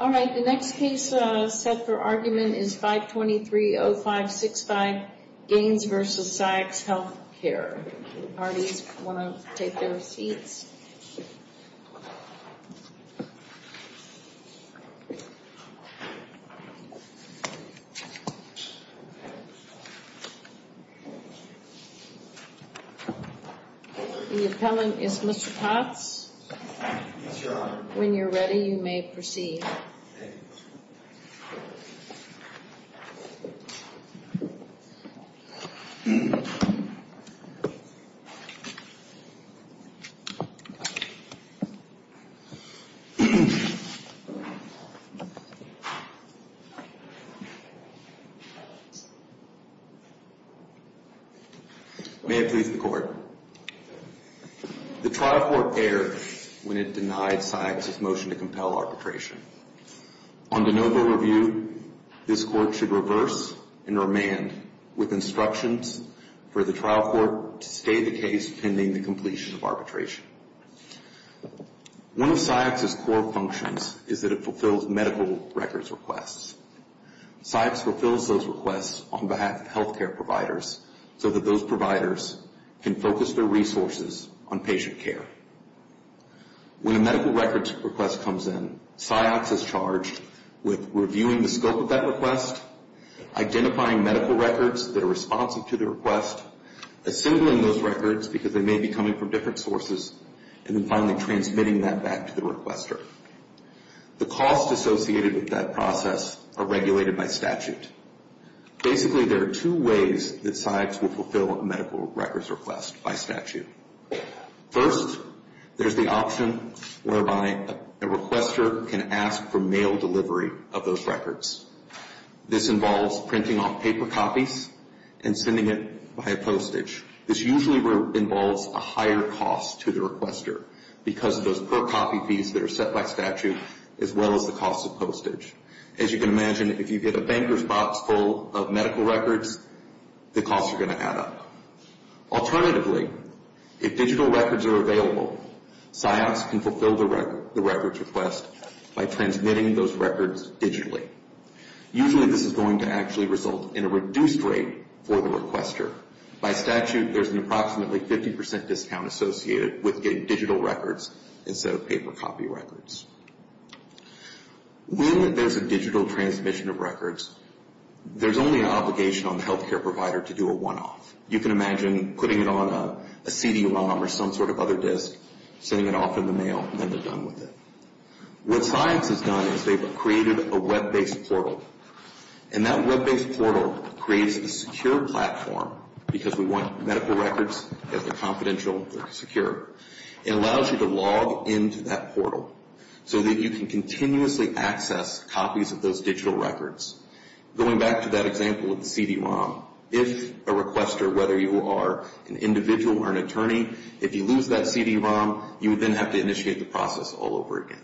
All right, the next case set for argument is 523-0565, Gaines v. Ciox Health Care. If the parties want to take their seats. The appellant is Mr. Potts. Yes, Your Honor. When you're ready, you may proceed. May it please the Court. The trial court erred when it denied Ciox's motion to compel arbitration. On de novo review, this Court should reverse and remand with instructions for the trial court to stay the case pending the completion of arbitration. One of Ciox's core functions is that it fulfills medical records requests. Ciox fulfills those requests on behalf of healthcare providers so that those providers can focus their resources on patient care. When a medical records request comes in, Ciox is charged with reviewing the scope of that request, identifying medical records that are responsive to the request, assembling those records because they may be coming from different sources, and then finally transmitting that back to the requester. The costs associated with that process are regulated by statute. Basically, there are two ways that Ciox will fulfill a medical records request by statute. First, there's the option whereby a requester can ask for mail delivery of those records. This involves printing off paper copies and sending it via postage. This usually involves a higher cost to the requester because of those per-copy fees that are set by statute as well as the cost of postage. As you can imagine, if you get a banker's box full of medical records, the costs are going to add up. Alternatively, if digital records are available, Ciox can fulfill the records request by transmitting those records digitally. Usually, this is going to actually result in a reduced rate for the requester. By statute, there's an approximately 50 percent discount associated with getting digital records instead of paper copy records. When there's a digital transmission of records, there's only an obligation on the health care provider to do a one-off. You can imagine putting it on a CD-ROM or some sort of other disc, sending it off in the mail, and then they're done with it. What Ciox has done is they've created a web-based portal, and that web-based portal creates a secure platform because we want medical records that are confidential and secure. It allows you to log into that portal so that you can continuously access copies of those digital records. Going back to that example of the CD-ROM, if a requester, whether you are an individual or an attorney, if you lose that CD-ROM, you would then have to initiate the process all over again.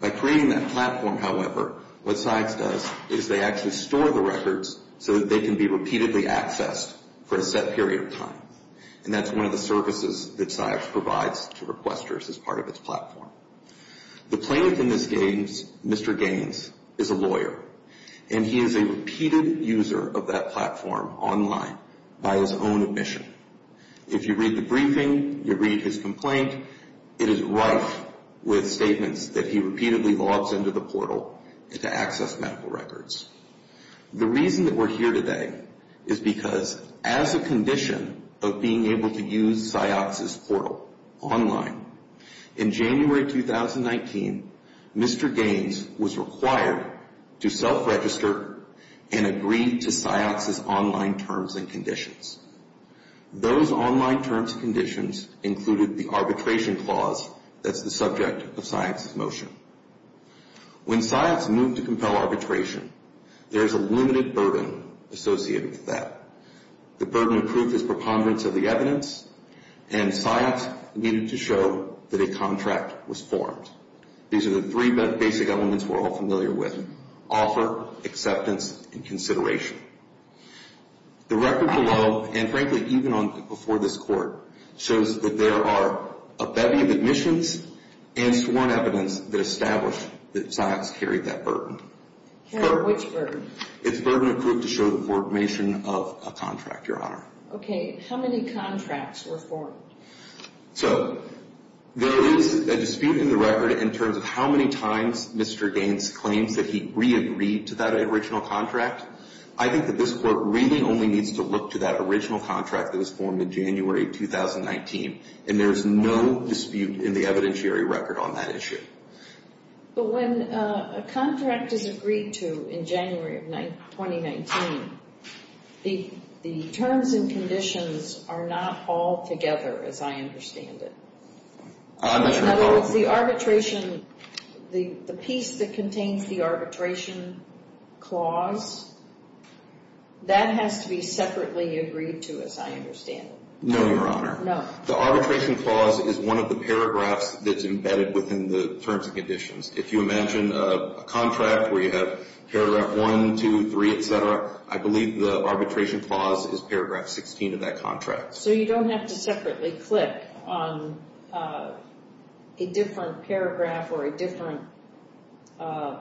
By creating that platform, however, what Ciox does is they actually store the records and that's one of the services that Ciox provides to requesters as part of its platform. The plaintiff in this case, Mr. Gaines, is a lawyer, and he is a repeated user of that platform online by his own admission. If you read the briefing, you read his complaint, it is rife with statements that he repeatedly logs into the portal to access medical records. The reason that we're here today is because as a condition of being able to use Ciox's portal online, in January 2019, Mr. Gaines was required to self-register and agree to Ciox's online terms and conditions. Those online terms and conditions included the arbitration clause that's the subject of Ciox's motion. When Ciox moved to compel arbitration, there is a limited burden associated with that. The burden of proof is preponderance of the evidence and Ciox needed to show that a contract was formed. These are the three basic elements we're all familiar with, offer, acceptance, and consideration. The record below, and frankly, even before this court, shows that there are a bevy of admissions and sworn evidence that established that Ciox carried that burden. Carried which burden? It's burden of proof to show the formation of a contract, Your Honor. Okay, how many contracts were formed? So, there is a dispute in the record in terms of how many times Mr. Gaines claims that he re-agreed to that original contract. I think that this court really only needs to look to that original contract that was formed in January 2019 and there is no dispute in the evidentiary record on that issue. But when a contract is agreed to in January of 2019, the terms and conditions are not all together as I understand it. In other words, the arbitration, the piece that contains the arbitration clause, that has to be separately agreed to as I understand it. No, Your Honor. No. The arbitration clause is one of the paragraphs that's embedded within the terms and conditions. If you imagine a contract where you have paragraph 1, 2, 3, etc., I believe the arbitration clause is paragraph 16 of that contract. So, you don't have to separately click on a different paragraph or a different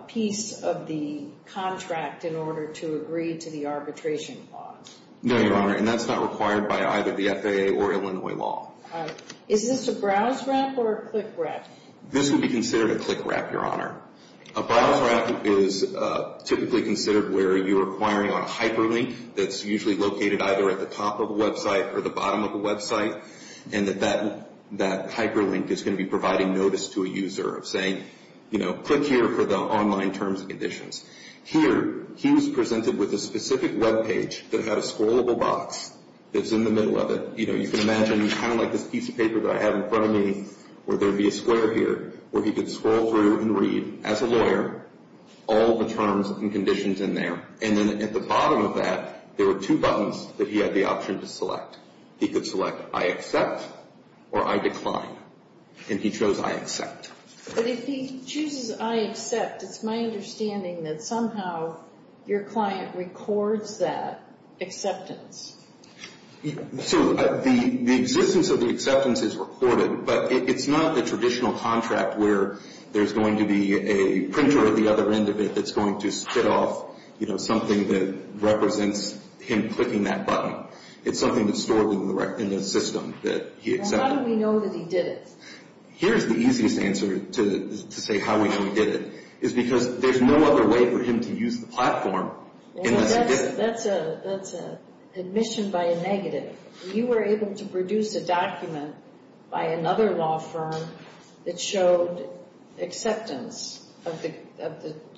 piece of the contract in order to agree to the arbitration clause. No, Your Honor. And that's not required by either the FAA or Illinois law. All right. Is this a browse wrap or a click wrap? This would be considered a click wrap, Your Honor. A browse wrap is typically considered where you are requiring on a hyperlink that's usually located either at the top of a website or the bottom of a website and that that hyperlink is going to be providing notice to a user of saying, you know, click here for the online terms and conditions. Here, he was presented with a specific webpage that had a scrollable box that's in the middle of it. You know, you can imagine kind of like this piece of paper that I have in front of me where there would be a square here where he could scroll through and read, as a lawyer, all the terms and conditions in there. And then at the bottom of that, there were two buttons that he had the option to select. He could select I accept or I decline. And he chose I accept. But if he chooses I accept, it's my understanding that somehow your client records that acceptance. So the existence of the acceptance is recorded, but it's not the traditional contract where there's going to be a printer at the other end of it that's going to spit off, you know, something that represents him clicking that button. It's something that's stored in the system that he accepted. Well, how do we know that he did it? Here's the easiest answer to say how we know he did it, is because there's no other way for him to use the platform unless he did it. Well, that's admission by a negative. You were able to produce a document by another law firm that showed acceptance of the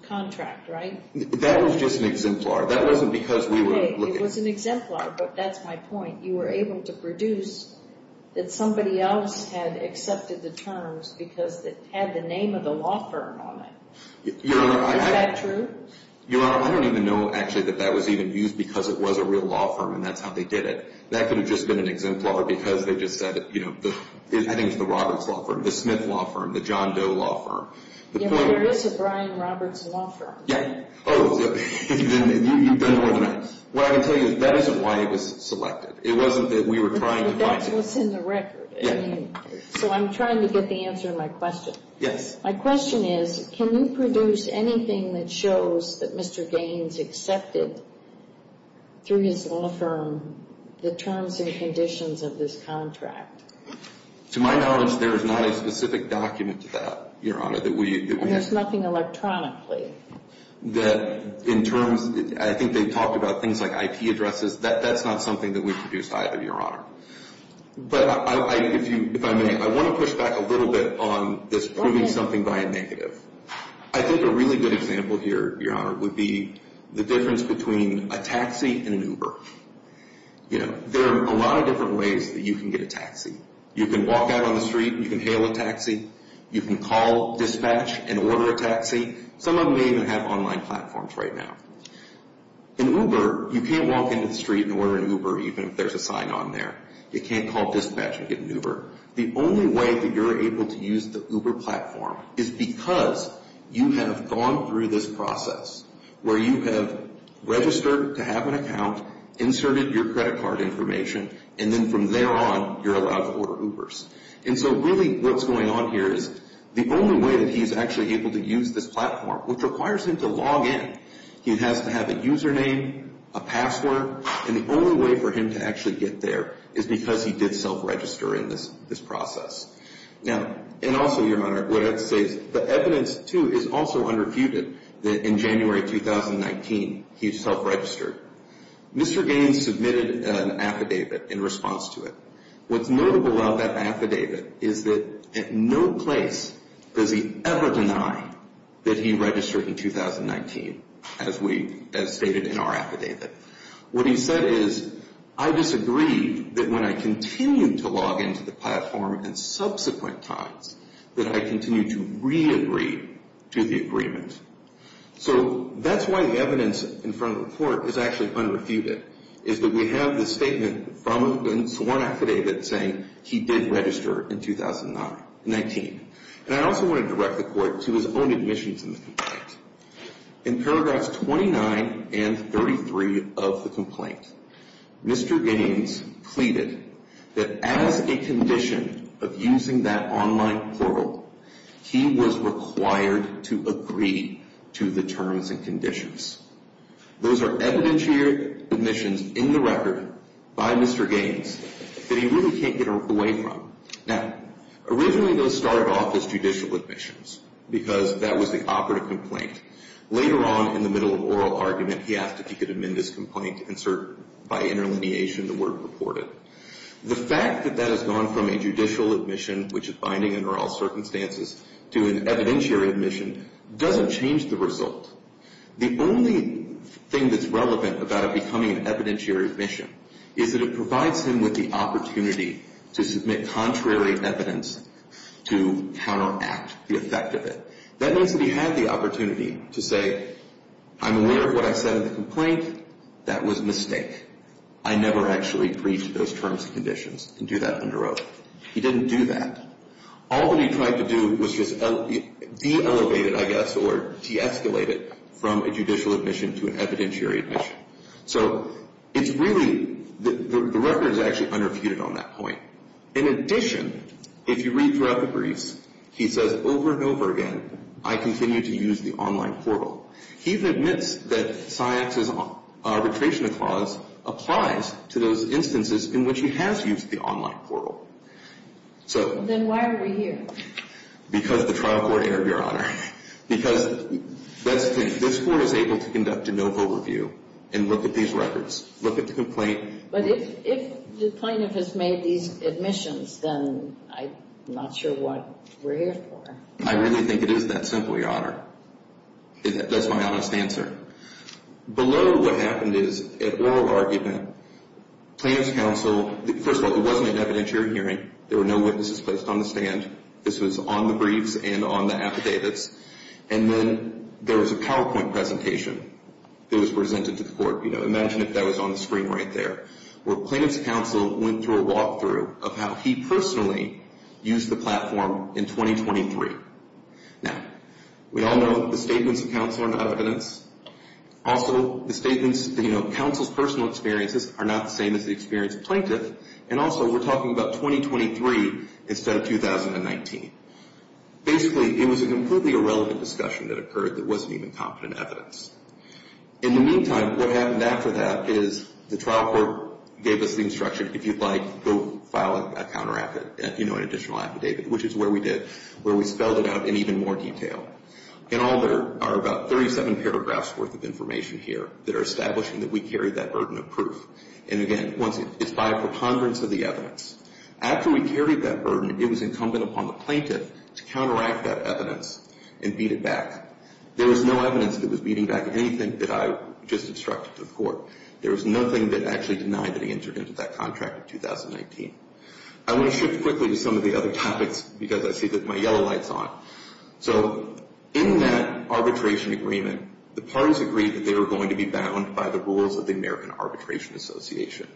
contract, right? That was just an exemplar. That wasn't because we were looking. It was an exemplar, but that's my point. You were able to produce that somebody else had accepted the terms because it had the name of the law firm on it. Is that true? Your Honor, I don't even know actually that that was even used because it was a real law firm and that's how they did it. That could have just been an exemplar because they just said, you know, heading to the Roberts Law Firm, the Smith Law Firm, the John Doe Law Firm. Yeah, but there is a Brian Roberts Law Firm. Yeah. Oh. You've done more than that. What I can tell you is that isn't why it was selected. It wasn't that we were trying to find it. But that's what's in the record. Yeah. So I'm trying to get the answer to my question. Yes. My question is, can you produce anything that shows that Mr. Gaines accepted through his law firm the terms and conditions of this contract? To my knowledge, there is not a specific document to that, Your Honor, that we have. And there's nothing electronically? That in terms, I think they talked about things like IP addresses. That's not something that we produced either, Your Honor. But if I may, I want to push back a little bit on this by proving something by a negative. I think a really good example here, Your Honor, would be the difference between a taxi and an Uber. You know, there are a lot of different ways that you can get a taxi. You can walk out on the street and you can hail a taxi. You can call dispatch and order a taxi. Some of them may even have online platforms right now. An Uber, you can't walk into the street and order an Uber even if there's a sign on there. You can't call dispatch and get an Uber. The only way that you're able to use the Uber platform is because you have gone through this process where you have registered to have an account, inserted your credit card information, and then from there on you're allowed to order Ubers. And so really what's going on here is the only way that he's actually able to use this platform, which requires him to log in, he has to have a username, a password, and the only way for him to actually get there is because he did self-register in this process. Now, and also, Your Honor, what that says, the evidence, too, is also unrefuted that in January 2019 he self-registered. Mr. Gaines submitted an affidavit in response to it. What's notable about that affidavit is that at no place does he ever deny that he registered in 2019, as stated in our affidavit. What he said is, I disagree that when I continue to log into the platform in subsequent times that I continue to re-agree to the agreement. So that's why the evidence in front of the court is actually unrefuted, is that we have the statement from the sworn affidavit saying he did register in 2019. And I also want to direct the court to his own admissions in the complaint. In paragraphs 29 and 33 of the complaint, Mr. Gaines pleaded that as a condition of using that online portal, he was required to agree to the terms and conditions. Those are evidentiary admissions in the record by Mr. Gaines that he really can't get away from. Now, originally those started off as judicial admissions because that was the operative complaint. Later on, in the middle of oral argument, he asked if he could amend this complaint and insert by interlineation the word purported. The fact that that has gone from a judicial admission, which is binding under all circumstances, to an evidentiary admission doesn't change the result. The only thing that's relevant about it becoming an evidentiary admission is that it provides him with the opportunity to submit contrary evidence to counteract the effect of it. That means that he had the opportunity to say, I'm aware of what I said in the complaint. That was a mistake. I never actually breached those terms and conditions and do that under oath. He didn't do that. All that he tried to do was just de-elevate it, I guess, or de-escalate it from a judicial admission to an evidentiary admission. So it's really, the record is actually unrefuted on that point. In addition, if you read throughout the briefs, he says over and over again, I continue to use the online portal. He admits that Syox's arbitration clause applies to those instances in which he has used the online portal. So... Then why are we here? Because the trial court interviewed your Honor. Because this court is able to conduct a no vote review and look at these records, look at the complaint. But if the plaintiff has made these admissions, then I'm not sure what we're here for. I really think it is that simple, Your Honor. That's my honest answer. Below what happened is an oral argument. Plaintiff's counsel, first of all, it wasn't an evidentiary hearing. There were no witnesses placed on the stand. This was on the briefs and on the affidavits. And then there was a PowerPoint presentation that was presented to the court. Imagine if that was on the screen right there. Where plaintiff's counsel went through a walkthrough of how he personally used the platform in 2023. Now, we all know that the statements of counsel are not evidence. Also, the statements, you know, counsel's personal experiences are not the same as the experience of plaintiff. And also, we're talking about 2023 instead of 2019. Basically, it was a completely irrelevant discussion that occurred that wasn't even competent evidence. In the meantime, what happened after that is the trial court gave us the instruction, if you'd like, go file an additional affidavit, which is where we did, where we spelled it out in even more detail. And all there are about 37 paragraphs worth of information here that are establishing that we carry that burden of proof. And again, it's by a preponderance of the evidence. After we carried that burden, it was incumbent upon the plaintiff to counteract that evidence and beat it back. There was no evidence that was beating back anything that I just instructed to the court. There was nothing that actually denied that he entered into that contract in 2019. I want to shift quickly to some of the other topics because I see that my yellow light's on. So in that arbitration agreement, the parties agreed that they were going to be bound by the rules of the American Arbitration Association.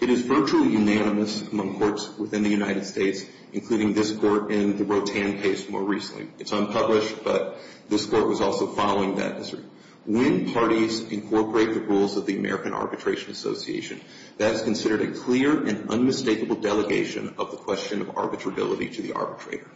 It is virtually unanimous among courts within the United States, including this court and the Rotan case more recently. It's unpublished, but this court was also following that history. When parties incorporate the rules of the American Arbitration Association, that is considered a clear and unmistakable delegation of the question of arbitrability to the arbitrator.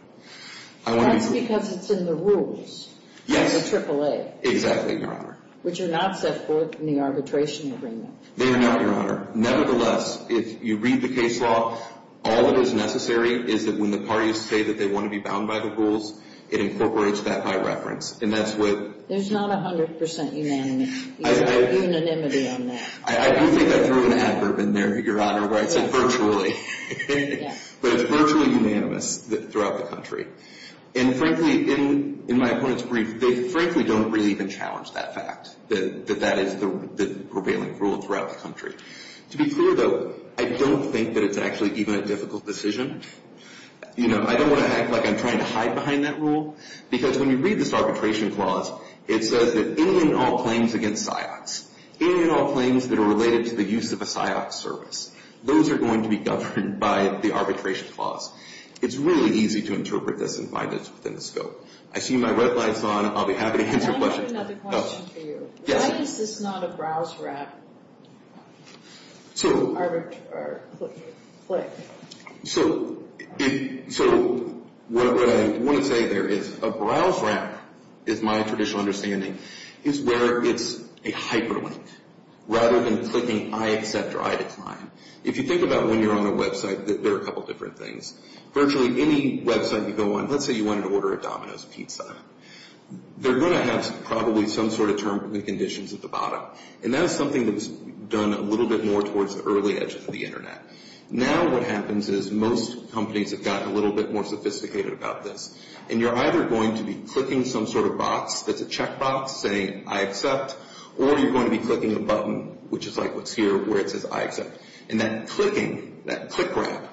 That's because it's in the rules. Yes. The AAA. Exactly, Your Honor. Which are not set forth in the arbitration agreement. They are not, Your Honor. Nevertheless, if you read the case law, all that is necessary is that when the parties say that they want to be bound by the rules, it incorporates that by reference. And that's what... There's not 100% unanimity. There's no unanimity on that. I do think I threw an adverb in there, Your Honor, where I said virtually. Yeah. But it's virtually unanimous throughout the country. And frankly, in my opponent's brief, they frankly don't really even challenge that fact, that that is the prevailing rule throughout the country. To be clear, though, I don't think that it's actually even a difficult decision. You know, I don't want to act like I'm trying to hide behind that rule. Because when you read this arbitration clause, it says that any and all claims against SIOCs, any and all claims that are related to the use of a SIOC service, those are going to be governed by the arbitration clause. It's really easy to interpret this and find it within the scope. I see my red light's on. I'll be happy to answer questions. I have another question for you. Yes. Why is this not a browse wrap? So... Or click. So what I want to say there is a browse wrap, is my traditional understanding, is where it's a hyperlink. Rather than clicking I accept or I decline. If you think about when you're on a website, there are a couple different things. Virtually any website you go on, let's say you wanted to order a Domino's pizza, they're going to have probably some sort of term and conditions at the bottom. And that is something that was done a little bit more towards the early edge of the internet. Now what happens is most companies have gotten a little bit more sophisticated about this. And you're either going to be clicking some sort of box that's a check box saying I accept, or you're going to be clicking a button, which is like what's here, where it says I accept. And that clicking, that click wrap,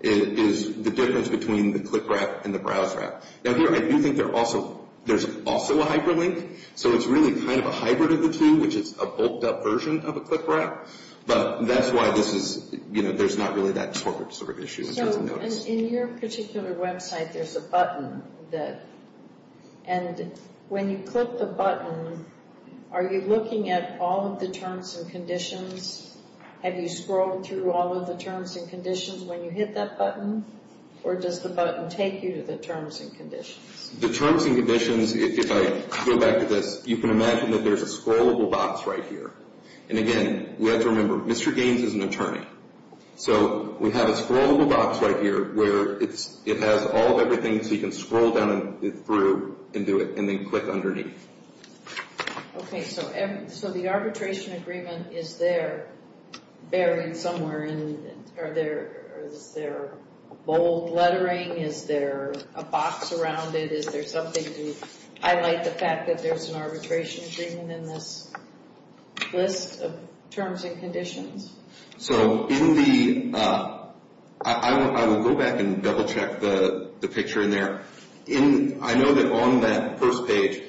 is the difference between the click wrap and the browse wrap. Now here I do think there's also a hyperlink, so it's really kind of a hybrid of the two, which is a bulked up version of a click wrap. But that's why there's not really that sort of issue. So in your particular website there's a button. And when you click the button, are you looking at all of the terms and conditions? Have you scrolled through all of the terms and conditions when you hit that button? Or does the button take you to the terms and conditions? The terms and conditions, if I go back to this, you can imagine that there's a scrollable box right here. And again, we have to remember, Mr. Gaines is an attorney. So we have a scrollable box right here where it has all of everything so you can scroll down through and do it and then click underneath. Okay, so the arbitration agreement, is there buried somewhere? Is there bold lettering? Is there a box around it? Is there something to highlight the fact that there's an arbitration agreement in this list of terms and conditions? So in the, I will go back and double check the picture in there. I know that on that first page,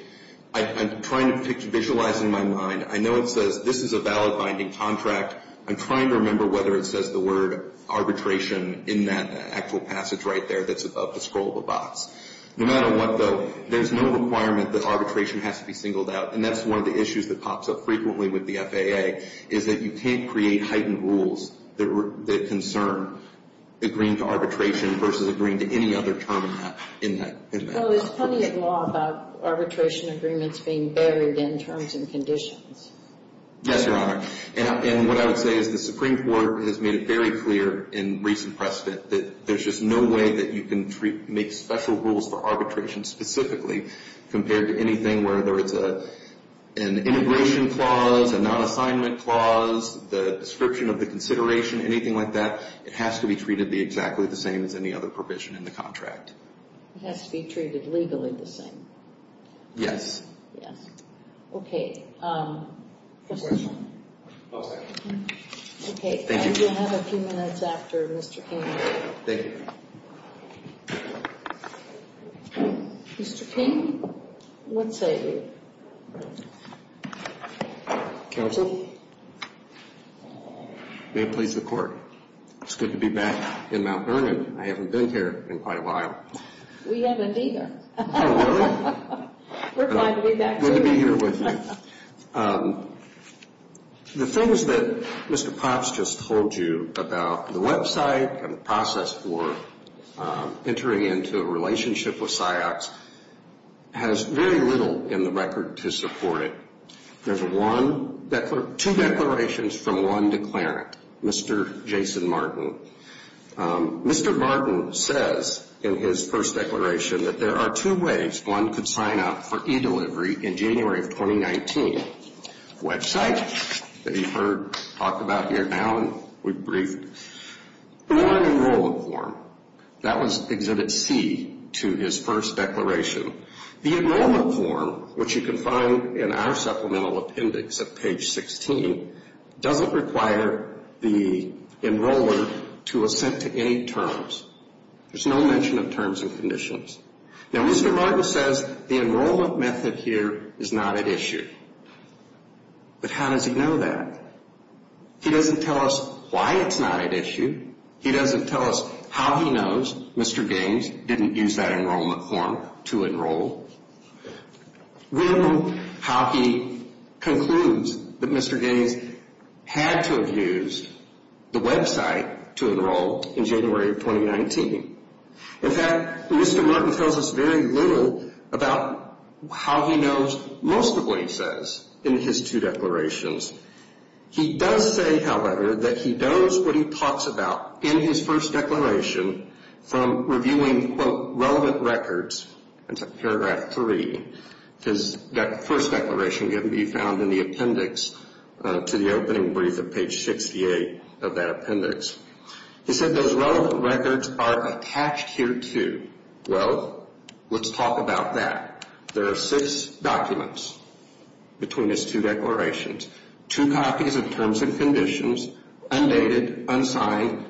I'm trying to visualize in my mind, I know it says this is a valid binding contract. I'm trying to remember whether it says the word arbitration in that actual passage right there that's above the scrollable box. No matter what, though, there's no requirement that arbitration has to be singled out. And that's one of the issues that pops up frequently with the FAA is that you can't create heightened rules that concern agreeing to arbitration versus agreeing to any other term in that. Well, there's plenty of law about arbitration agreements being buried in terms and conditions. Yes, Your Honor. And what I would say is the Supreme Court has made it very clear in recent precedent that there's just no way that you can make special rules for arbitration specifically compared to anything where there is an integration clause, a non-assignment clause, the description of the consideration, anything like that. It has to be treated exactly the same as any other provision in the contract. It has to be treated legally the same. Yes. Yes. Okay. Question. Okay. Thank you. You have a few minutes after, Mr. King. Thank you. Mr. King, what say you? Counsel? May it please the Court. It's good to be back in Mount Vernon. I haven't been here in quite a while. We haven't either. Oh, really? We're glad to be back, too. Good to be here with you. The things that Mr. Propst just told you about the website and the process for entering into a relationship with SIOPS has very little in the record to support it. There's two declarations from one declarant, Mr. Jason Martin. Mr. Martin says in his first declaration that there are two ways one could sign up for eDelivery in January of 2019. Website that you've heard talked about here now and we've briefed. Enrollment form. That was Exhibit C to his first declaration. The enrollment form, which you can find in our supplemental appendix at page 16, doesn't require the enroller to assent to any terms. There's no mention of terms and conditions. Now, Mr. Martin says the enrollment method here is not at issue. But how does he know that? He doesn't tell us why it's not at issue. He doesn't tell us how he knows Mr. Gaines didn't use that enrollment form to enroll. We don't know how he concludes that Mr. Gaines had to have used the website to enroll in January of 2019. In fact, Mr. Martin tells us very little about how he knows most of what he says in his two declarations. He does say, however, that he knows what he talks about in his first declaration from reviewing quote, relevant records. That's paragraph three. His first declaration can be found in the appendix to the opening brief at page 68 of that appendix. He said those relevant records are attached here too. Well, let's talk about that. There are six documents between his two declarations. Two copies of terms and conditions, undated, unsigned.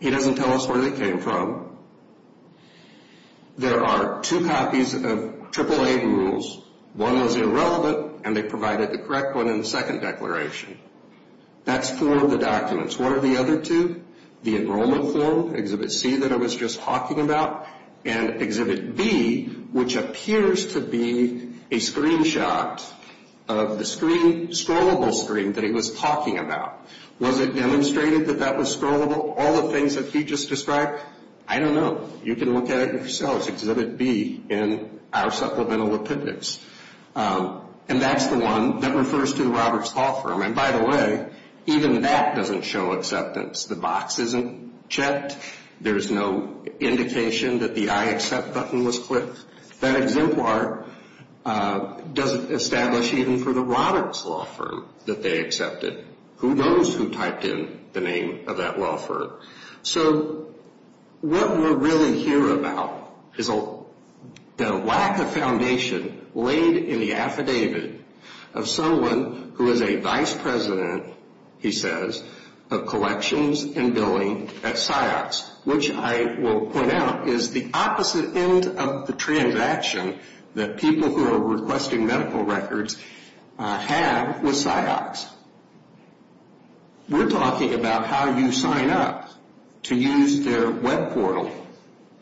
He doesn't tell us where they came from. There are two copies of AAA rules. One is irrelevant, and they provided the correct one in the second declaration. That's four of the documents. What are the other two? The enrollment form, Exhibit C that I was just talking about, and Exhibit B, which appears to be a screenshot of the scrollable screen that he was talking about. Was it demonstrated that that was scrollable? All the things that he just described? I don't know. You can look at it yourselves. Exhibit B in our supplemental appendix. And that's the one that refers to the Roberts Law Firm. And by the way, even that doesn't show acceptance. The box isn't checked. There's no indication that the I accept button was clicked. That exemplar doesn't establish even for the Roberts Law Firm that they accepted. Who knows who typed in the name of that law firm? So what we're really here about is the lack of foundation laid in the affidavit of someone who is a vice president, he says, of collections and billing at PsyOx, which I will point out is the opposite end of the transaction that people who are requesting medical records have with PsyOx. We're talking about how you sign up to use their web portal.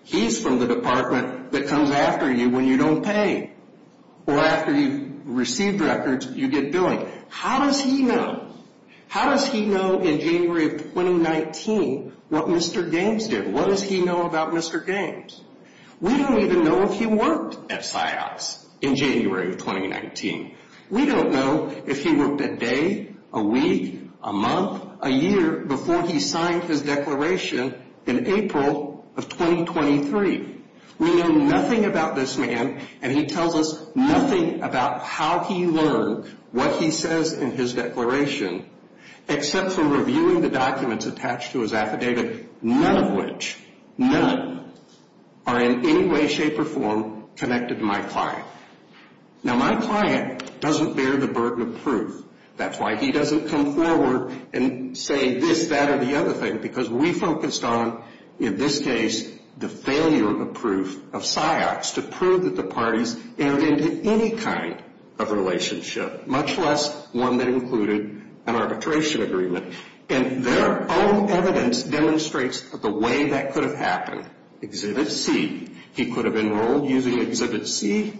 He's from the department that comes after you when you don't pay or after you've received records, you get billing. How does he know? How does he know in January of 2019 what Mr. Gaines did? What does he know about Mr. Gaines? We don't even know if he worked at PsyOx in January of 2019. We don't know if he worked a day, a week, a month, a year, before he signed his declaration in April of 2023. We know nothing about this man, and he tells us nothing about how he learned what he says in his declaration, except for reviewing the documents attached to his affidavit, none of which, none, are in any way, shape, or form connected to my client. That's why he doesn't come forward and say this, that, or the other thing, because we focused on, in this case, the failure of proof of PsyOx to prove that the parties entered into any kind of relationship, much less one that included an arbitration agreement. And their own evidence demonstrates the way that could have happened. Exhibit C, he could have enrolled using Exhibit C.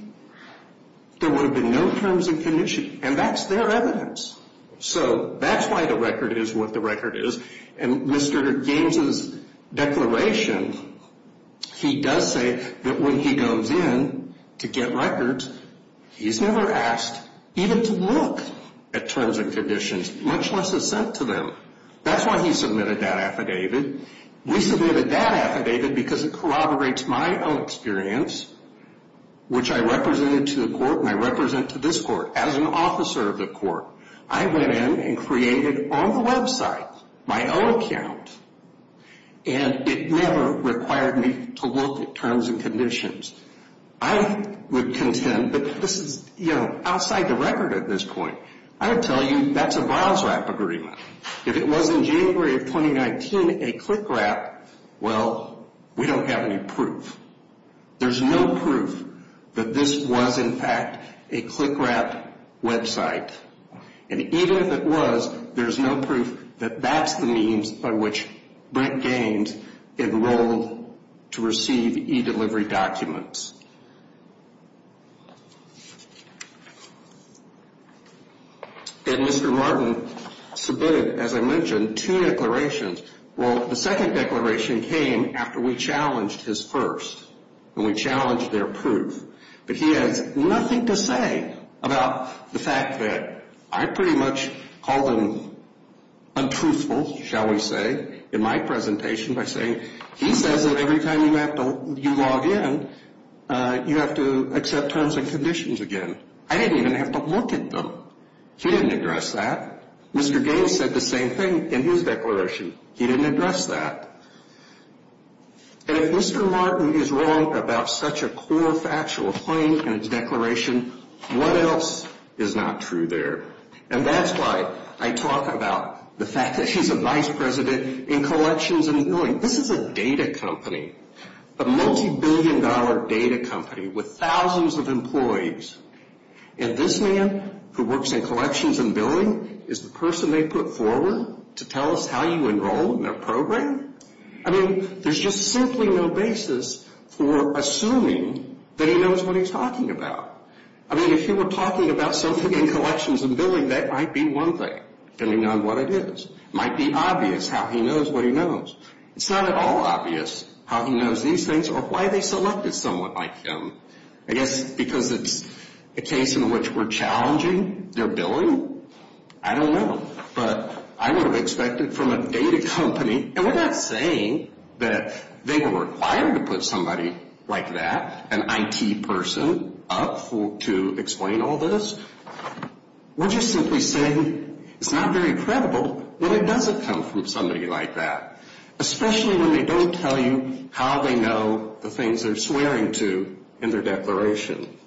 There would have been no terms and conditions, and that's their evidence. So that's why the record is what the record is. In Mr. Gaines's declaration, he does say that when he goes in to get records, he's never asked even to look at terms and conditions, much less assent to them. That's why he submitted that affidavit. We submitted that affidavit because it corroborates my own experience, which I represented to the court, and I represent to this court, as an officer of the court. I went in and created on the website my own account, and it never required me to look at terms and conditions. I would contend that this is, you know, outside the record at this point. I would tell you that's a VASRAP agreement. If it was in January of 2019 a CLICRAP, well, we don't have any proof. There's no proof that this was, in fact, a CLICRAP website. And even if it was, there's no proof that that's the means by which Brent Gaines enrolled to receive eDelivery documents. And Mr. Martin submitted, as I mentioned, two declarations. Well, the second declaration came after we challenged his first, and we challenged their proof. But he has nothing to say about the fact that I pretty much called him untruthful, shall we say, in my presentation by saying, he says that every time you log in, you have to accept terms and conditions again. I didn't even have to look at them. He didn't address that. Mr. Gaines said the same thing in his declaration. He didn't address that. And if Mr. Martin is wrong about such a core factual point in his declaration, what else is not true there? And that's why I talk about the fact that he's a vice president in collections and billing. This is a data company, a multibillion-dollar data company with thousands of employees. And this man who works in collections and billing is the person they put forward to tell us how you enroll in their program? I mean, there's just simply no basis for assuming that he knows what he's talking about. I mean, if he were talking about something in collections and billing, that might be one thing, depending on what it is. It might be obvious how he knows what he knows. It's not at all obvious how he knows these things or why they selected someone like him. I guess because it's a case in which we're challenging their billing? I don't know. But I would have expected from a data company, and we're not saying that they were required to put somebody like that, an IT person, up to explain all this. We're just simply saying it's not very credible when it doesn't come from somebody like that, especially when they don't tell you how they know the declaration.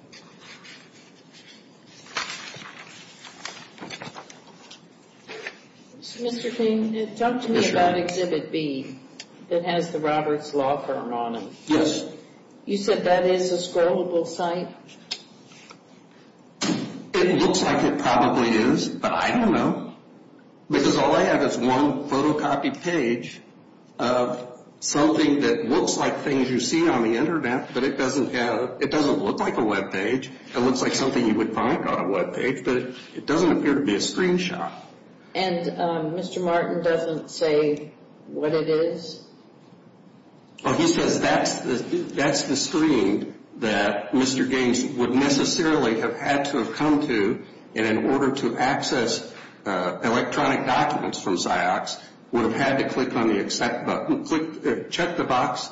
Mr. King, talk to me about Exhibit B that has the Roberts law firm on it. Yes. You said that is a scrollable site? It looks like it probably is, but I don't know. Because all I have is one photocopied page of something that looks like things you see on the Internet, but it doesn't look like a Web page. It looks like something you would find on a Web page, but it doesn't appear to be a screenshot. And Mr. Martin doesn't say what it is? He says that's the screen that Mr. Gaines would necessarily have had to have come to, and in order to access electronic documents from Cyox, would have had to click on the accept button, check the box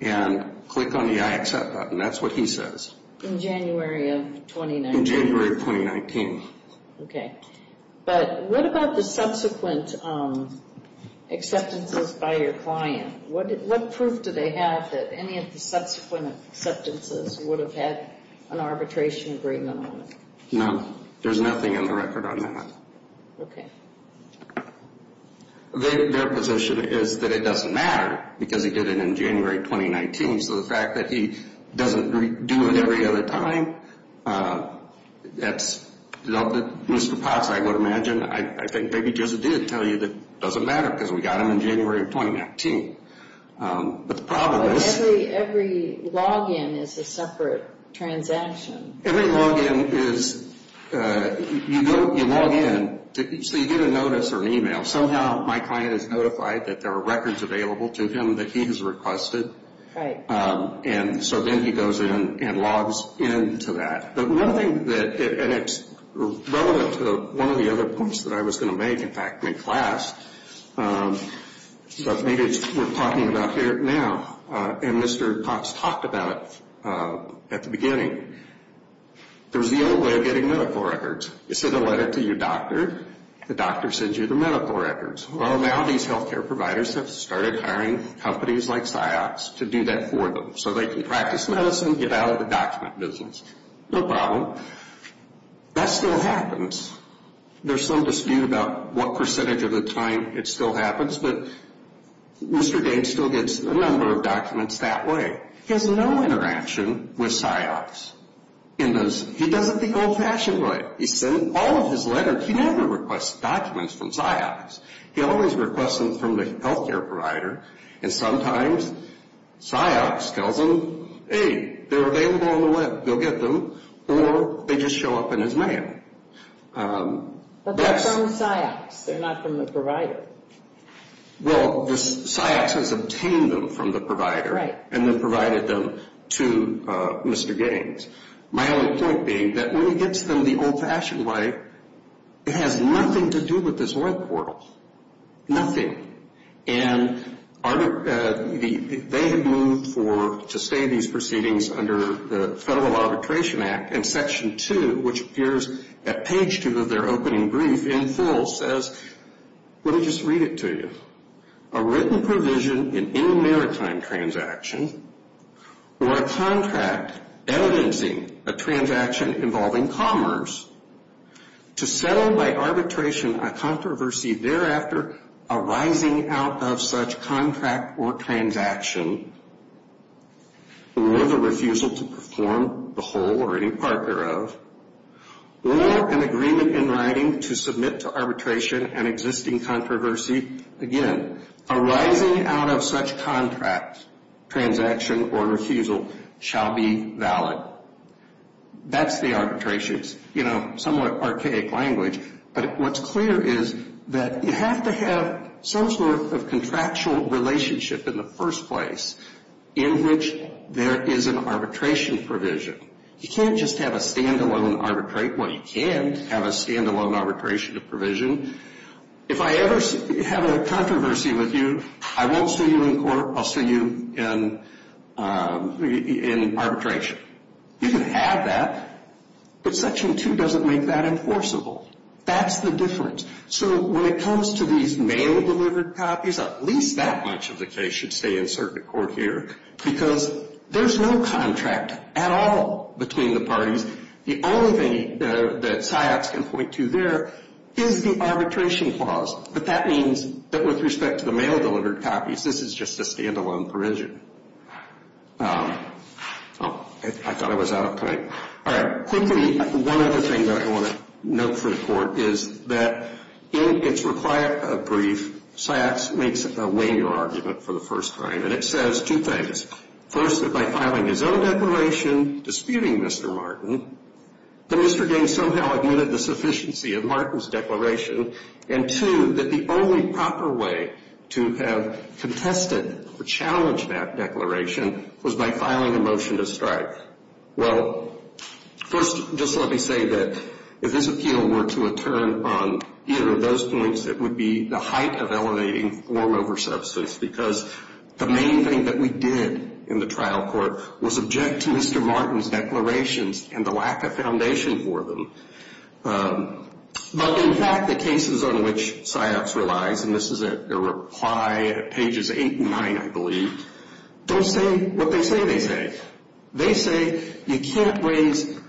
and click on the I accept button. That's what he says. In January of 2019? In January of 2019. Okay. But what about the subsequent acceptances by your client? What proof do they have that any of the subsequent acceptances would have had an arbitration agreement on it? No. There's nothing in the record on that. Okay. Their position is that it doesn't matter because he did it in January of 2019. So the fact that he doesn't do it every other time, that's not what Mr. Potts, I would imagine, I think maybe just did tell you that it doesn't matter because we got him in January of 2019. But the problem is – But every login is a separate transaction. Every login is – you log in. So you get a notice or an email. Somehow my client is notified that there are records available to him that he has requested. Right. And so then he goes in and logs into that. But one thing that – and it's relevant to one of the other points that I was going to make, in fact, in class, but maybe it's worth talking about here now. And Mr. Potts talked about it at the beginning. There's the old way of getting medical records. You send a letter to your doctor. The doctor sends you the medical records. Well, now these health care providers have started hiring companies like PsyOps to do that for them so they can practice medicine, get out of the document business. No problem. That still happens. There's some dispute about what percentage of the time it still happens, but Mr. Gates still gets a number of documents that way. He has no interaction with PsyOps in those – he does it the old-fashioned way. He sends all of his letters. He never requests documents from PsyOps. He always requests them from the health care provider, and sometimes PsyOps tells them, hey, they're available on the web, go get them, or they just show up in his mail. But they're from PsyOps. They're not from the provider. Well, PsyOps has obtained them from the provider and then provided them to Mr. Gates. My only point being that when he gets them the old-fashioned way, it has nothing to do with this web portal, nothing. And they have moved to stay in these proceedings under the Federal Arbitration Act, and Section 2, which appears at page 2 of their opening brief in full, says, let me just read it to you. A written provision in any maritime transaction or a contract evidencing a transaction involving commerce to settle by arbitration a controversy thereafter arising out of such contract or transaction or the refusal to perform the whole or any part thereof or an agreement in writing to submit to arbitration an existing controversy, again, arising out of such contract, transaction, or refusal shall be valid. That's the arbitrations. You know, somewhat archaic language, but what's clear is that you have to have some sort of contractual relationship in the first place in which there is an arbitration provision. You can't just have a stand-alone arbitrate. Well, you can have a stand-alone arbitration provision. If I ever have a controversy with you, I won't sue you in court. I'll sue you in arbitration. You can have that, but Section 2 doesn't make that enforceable. That's the difference. So when it comes to these mail-delivered copies, at least that much of the case should stay in circuit court here because there's no contract at all between the parties. The only thing that SIOTS can point to there is the arbitration clause, but that means that with respect to the mail-delivered copies, this is just a stand-alone provision. Oh, I thought I was out of time. All right. Quickly, one other thing that I want to note for the Court is that in its required brief, SIOTS makes a waynear argument for the first time, and it says two things. First, that by filing his own declaration disputing Mr. Martin, that Mr. Gaines somehow admitted the sufficiency of Martin's declaration, and two, that the only proper way to have contested or challenged that declaration was by filing a motion to strike. Well, first, just let me say that if this appeal were to return on either of those points, it would be the height of elevating form over substance because the main thing that we did in the trial court was object to Mr. Martin's declarations and the lack of foundation for them. But in fact, the cases on which SIOTS relies, and this is a reply at pages 8 and 9, I believe, don't say what they say they say. They say you can't raise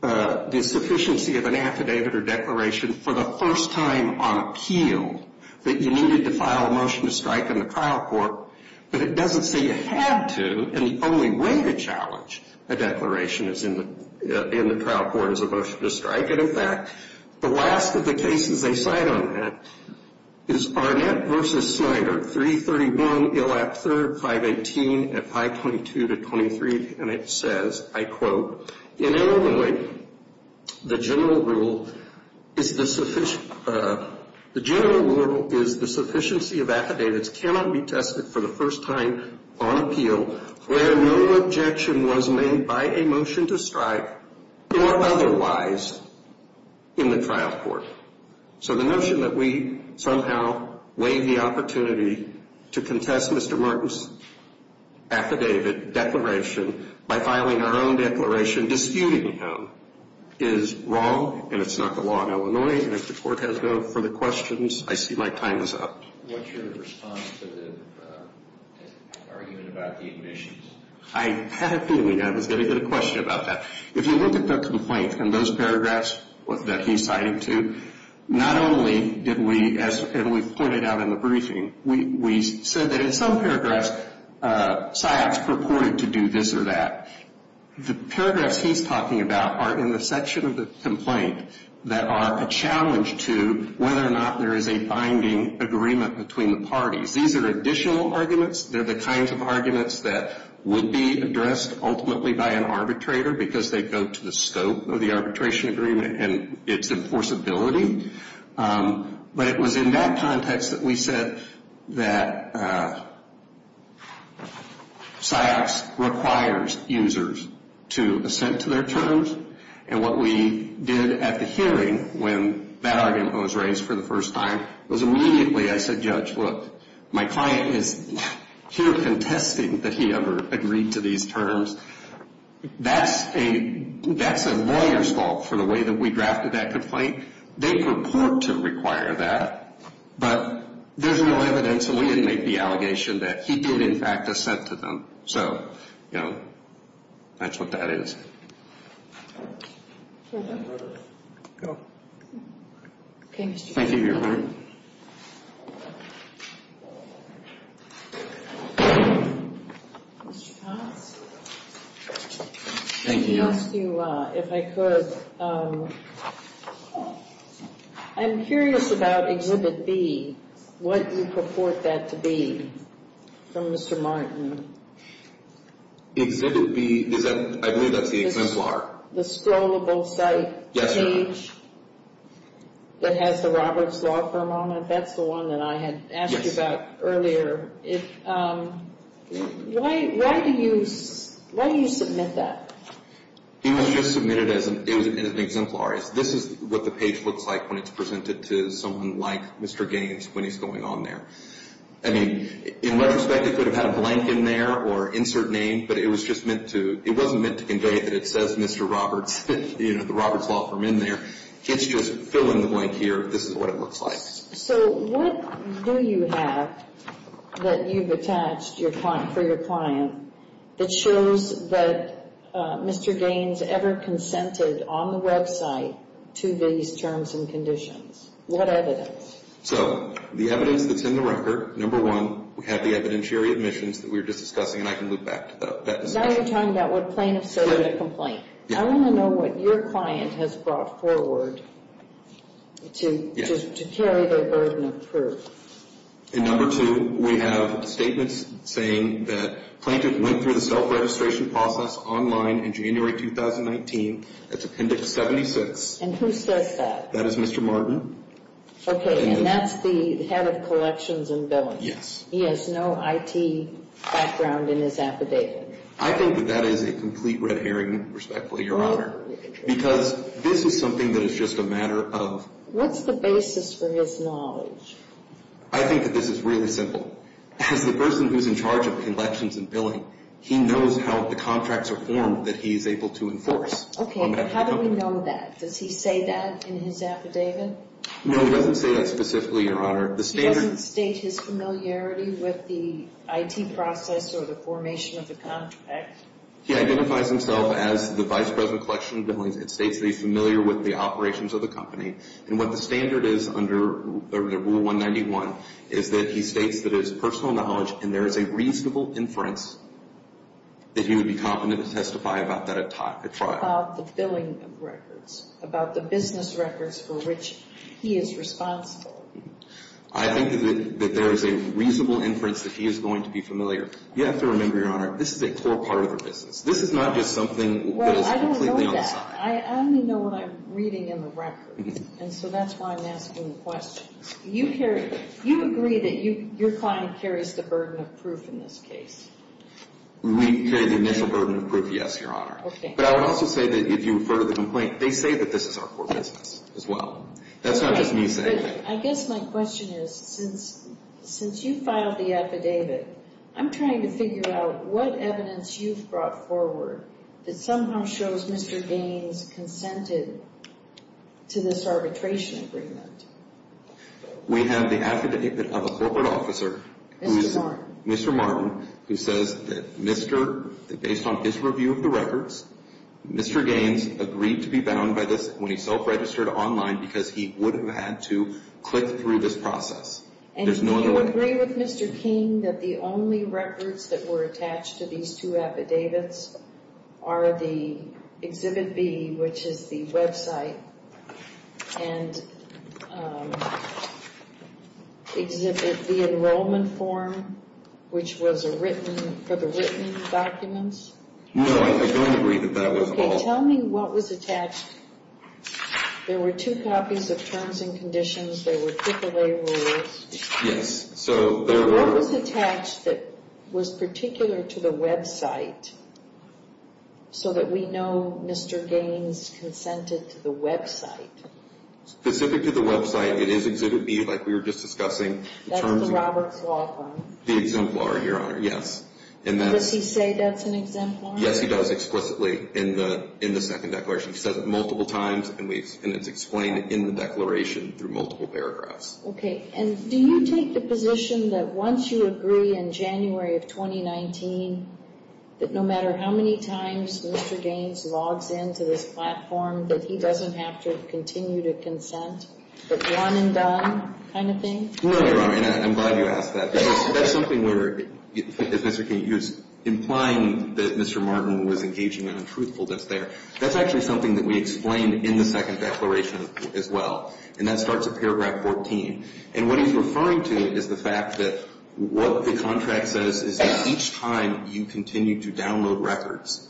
the sufficiency of an affidavit or declaration for the first time on appeal that you needed to file a motion to strike in the trial court, but it doesn't say you had to and the only way to challenge a declaration in the trial court is a motion to strike. And in fact, the last of the cases they cite on that is Barnett v. Snyder, 331 Ill Act III, 518 at 522 to 23, and it says, I quote, In Illinois, the general rule is the sufficiency of affidavits cannot be tested for the first time on appeal where no objection was made by a motion to strike or otherwise in the trial court. So the notion that we somehow waive the opportunity to contest Mr. Martin's affidavit declaration by filing our own declaration disputing him is wrong and it's not the law in Illinois and if the court has no further questions, I see my time is up. What's your response to the argument about the admissions? I had a feeling I was going to get a question about that. If you look at the complaint and those paragraphs that he cited too, not only did we, as we pointed out in the briefing, we said that in some paragraphs, Syops purported to do this or that. The paragraphs he's talking about are in the section of the complaint that are a challenge to whether or not there is a binding agreement between the parties. These are additional arguments. They're the kinds of arguments that would be addressed ultimately by an arbitrator because they go to the scope of the arbitration agreement and its enforceability. But it was in that context that we said that Syops requires users to assent to their terms and what we did at the hearing when that argument was raised for the first time, was immediately I said, Judge, look, my client is here contesting that he ever agreed to these terms. That's a lawyer's fault for the way that we drafted that complaint. They purport to require that, but there's no evidence that we didn't make the allegation that he did, in fact, assent to them. So, you know, that's what that is. Go ahead. Thank you, Your Honor. Mr. Potts? Thank you. If I could, I'm curious about Exhibit B, what you purport that to be from Mr. Martin. Exhibit B, I believe that's the exemplar. The scrollable site page that has the Roberts law firm on it. That's the one that I had asked you about earlier. Why do you submit that? It was just submitted as an exemplar. This is what the page looks like when it's presented to someone like Mr. Gaines when he's going on there. I mean, in retrospect, it could have had a blank in there or insert name, but it wasn't meant to convey that it says Mr. Roberts, you know, the Roberts law firm in there. It's just fill in the blank here. This is what it looks like. So what do you have that you've attached for your client that shows that Mr. Gaines ever consented on the website to these terms and conditions? What evidence? So the evidence that's in the record, number one, we have the evidentiary admissions that we were just discussing, and I can loop back to that discussion. Now you're talking about what plaintiff said in the complaint. I want to know what your client has brought forward to carry their burden of proof. In number two, we have statements saying that plaintiff went through the self-registration process online in January 2019. That's Appendix 76. And who says that? That is Mr. Martin. Okay. And that's the head of collections and billing. Yes. He has no IT background in his affidavit. I think that that is a complete red herring, respectfully, Your Honor, because this is something that is just a matter of... What's the basis for his knowledge? I think that this is really simple. As the person who's in charge of collections and billing, he knows how the contracts are formed that he is able to enforce. Okay. How do we know that? Does he say that in his affidavit? No, he doesn't say that specifically, Your Honor. He doesn't state his familiarity with the IT process or the formation of the contract? He identifies himself as the vice president of collections and billing. It states that he's familiar with the operations of the company. And what the standard is under Rule 191 is that he states that it is personal knowledge and there is a reasonable inference that he would be competent to testify about that at trial. What about the billing records, about the business records for which he is responsible? I think that there is a reasonable inference that he is going to be familiar. You have to remember, Your Honor, this is a core part of the business. This is not just something that is completely on the side. Well, I don't know that. I only know what I'm reading in the records, and so that's why I'm asking the questions. You agree that your client carries the burden of proof in this case? We carry the initial burden of proof, yes, Your Honor. But I would also say that if you refer to the complaint, they say that this is our core business as well. That's not just me saying that. I guess my question is, since you filed the affidavit, I'm trying to figure out what evidence you've brought forward that somehow shows Mr. Gaines consented to this arbitration agreement. We have the affidavit of a corporate officer, Mr. Martin, who says that based on his review of the records, Mr. Gaines agreed to be bound by this when he self-registered online because he would have had to click through this process. And do you agree with Mr. King that the only records that were attached to these two affidavits are the Exhibit B, which is the website, and Exhibit B, Enrollment Form, which was for the written documents? No, I don't agree that that was all. Okay, tell me what was attached. There were two copies of Terms and Conditions. There were AAA rules. Yes. What was attached that was particular to the website so that we know Mr. Gaines consented to the website? Specific to the website, it is Exhibit B, like we were just discussing. That's the Roberts Law Firm? The exemplar, Your Honor, yes. Does he say that's an exemplar? Yes, he does explicitly in the second declaration. He says it multiple times, and it's explained in the declaration through multiple paragraphs. Okay, and do you take the position that once you agree in January of 2019 that no matter how many times Mr. Gaines logs into this platform, that he doesn't have to continue to consent, that one and done kind of thing? No, Your Honor, and I'm glad you asked that. That's something where, if Mr. King is implying that Mr. Martin was engaging in untruthfulness there, that's actually something that we explain in the second declaration as well, and that starts at paragraph 14. And what he's referring to is the fact that what the contract says is that each time you continue to download records,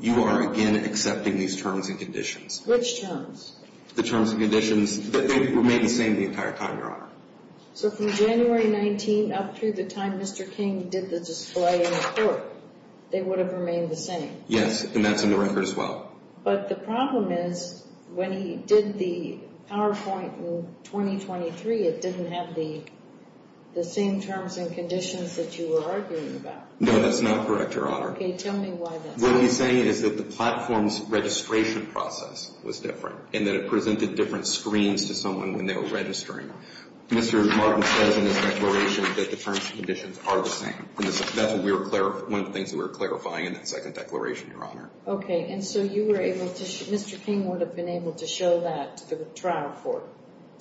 you are again accepting these terms and conditions. Which terms? The terms and conditions that they remain the same the entire time, Your Honor. So from January 19 up through the time Mr. King did the display in court, they would have remained the same? Yes, and that's in the record as well. But the problem is when he did the PowerPoint in 2023, it didn't have the same terms and conditions that you were arguing about. No, that's not correct, Your Honor. Okay, tell me why that's not correct. What he's saying is that the platform's registration process was different and that it presented different screens to someone when they were registering. Mr. Martin says in his declaration that the terms and conditions are the same. That's one of the things that we were clarifying in that second declaration, Your Honor. Okay, and so you were able to – Mr. King would have been able to show that to the trial court,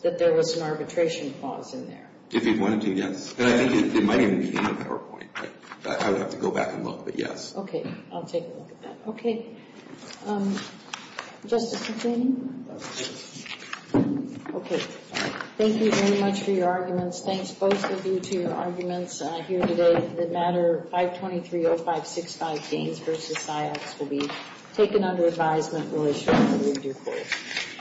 that there was an arbitration clause in there? If he wanted to, yes. And I think it might even be in the PowerPoint. I would have to go back and look, but yes. Okay, I'll take a look at that. Okay. Justice Katsany? Okay, thank you very much for your arguments. Thanks both of you to your arguments here today. The matter 523-0565, Gaines v. Syaks, will be taken under advisement. We'll issue a review court.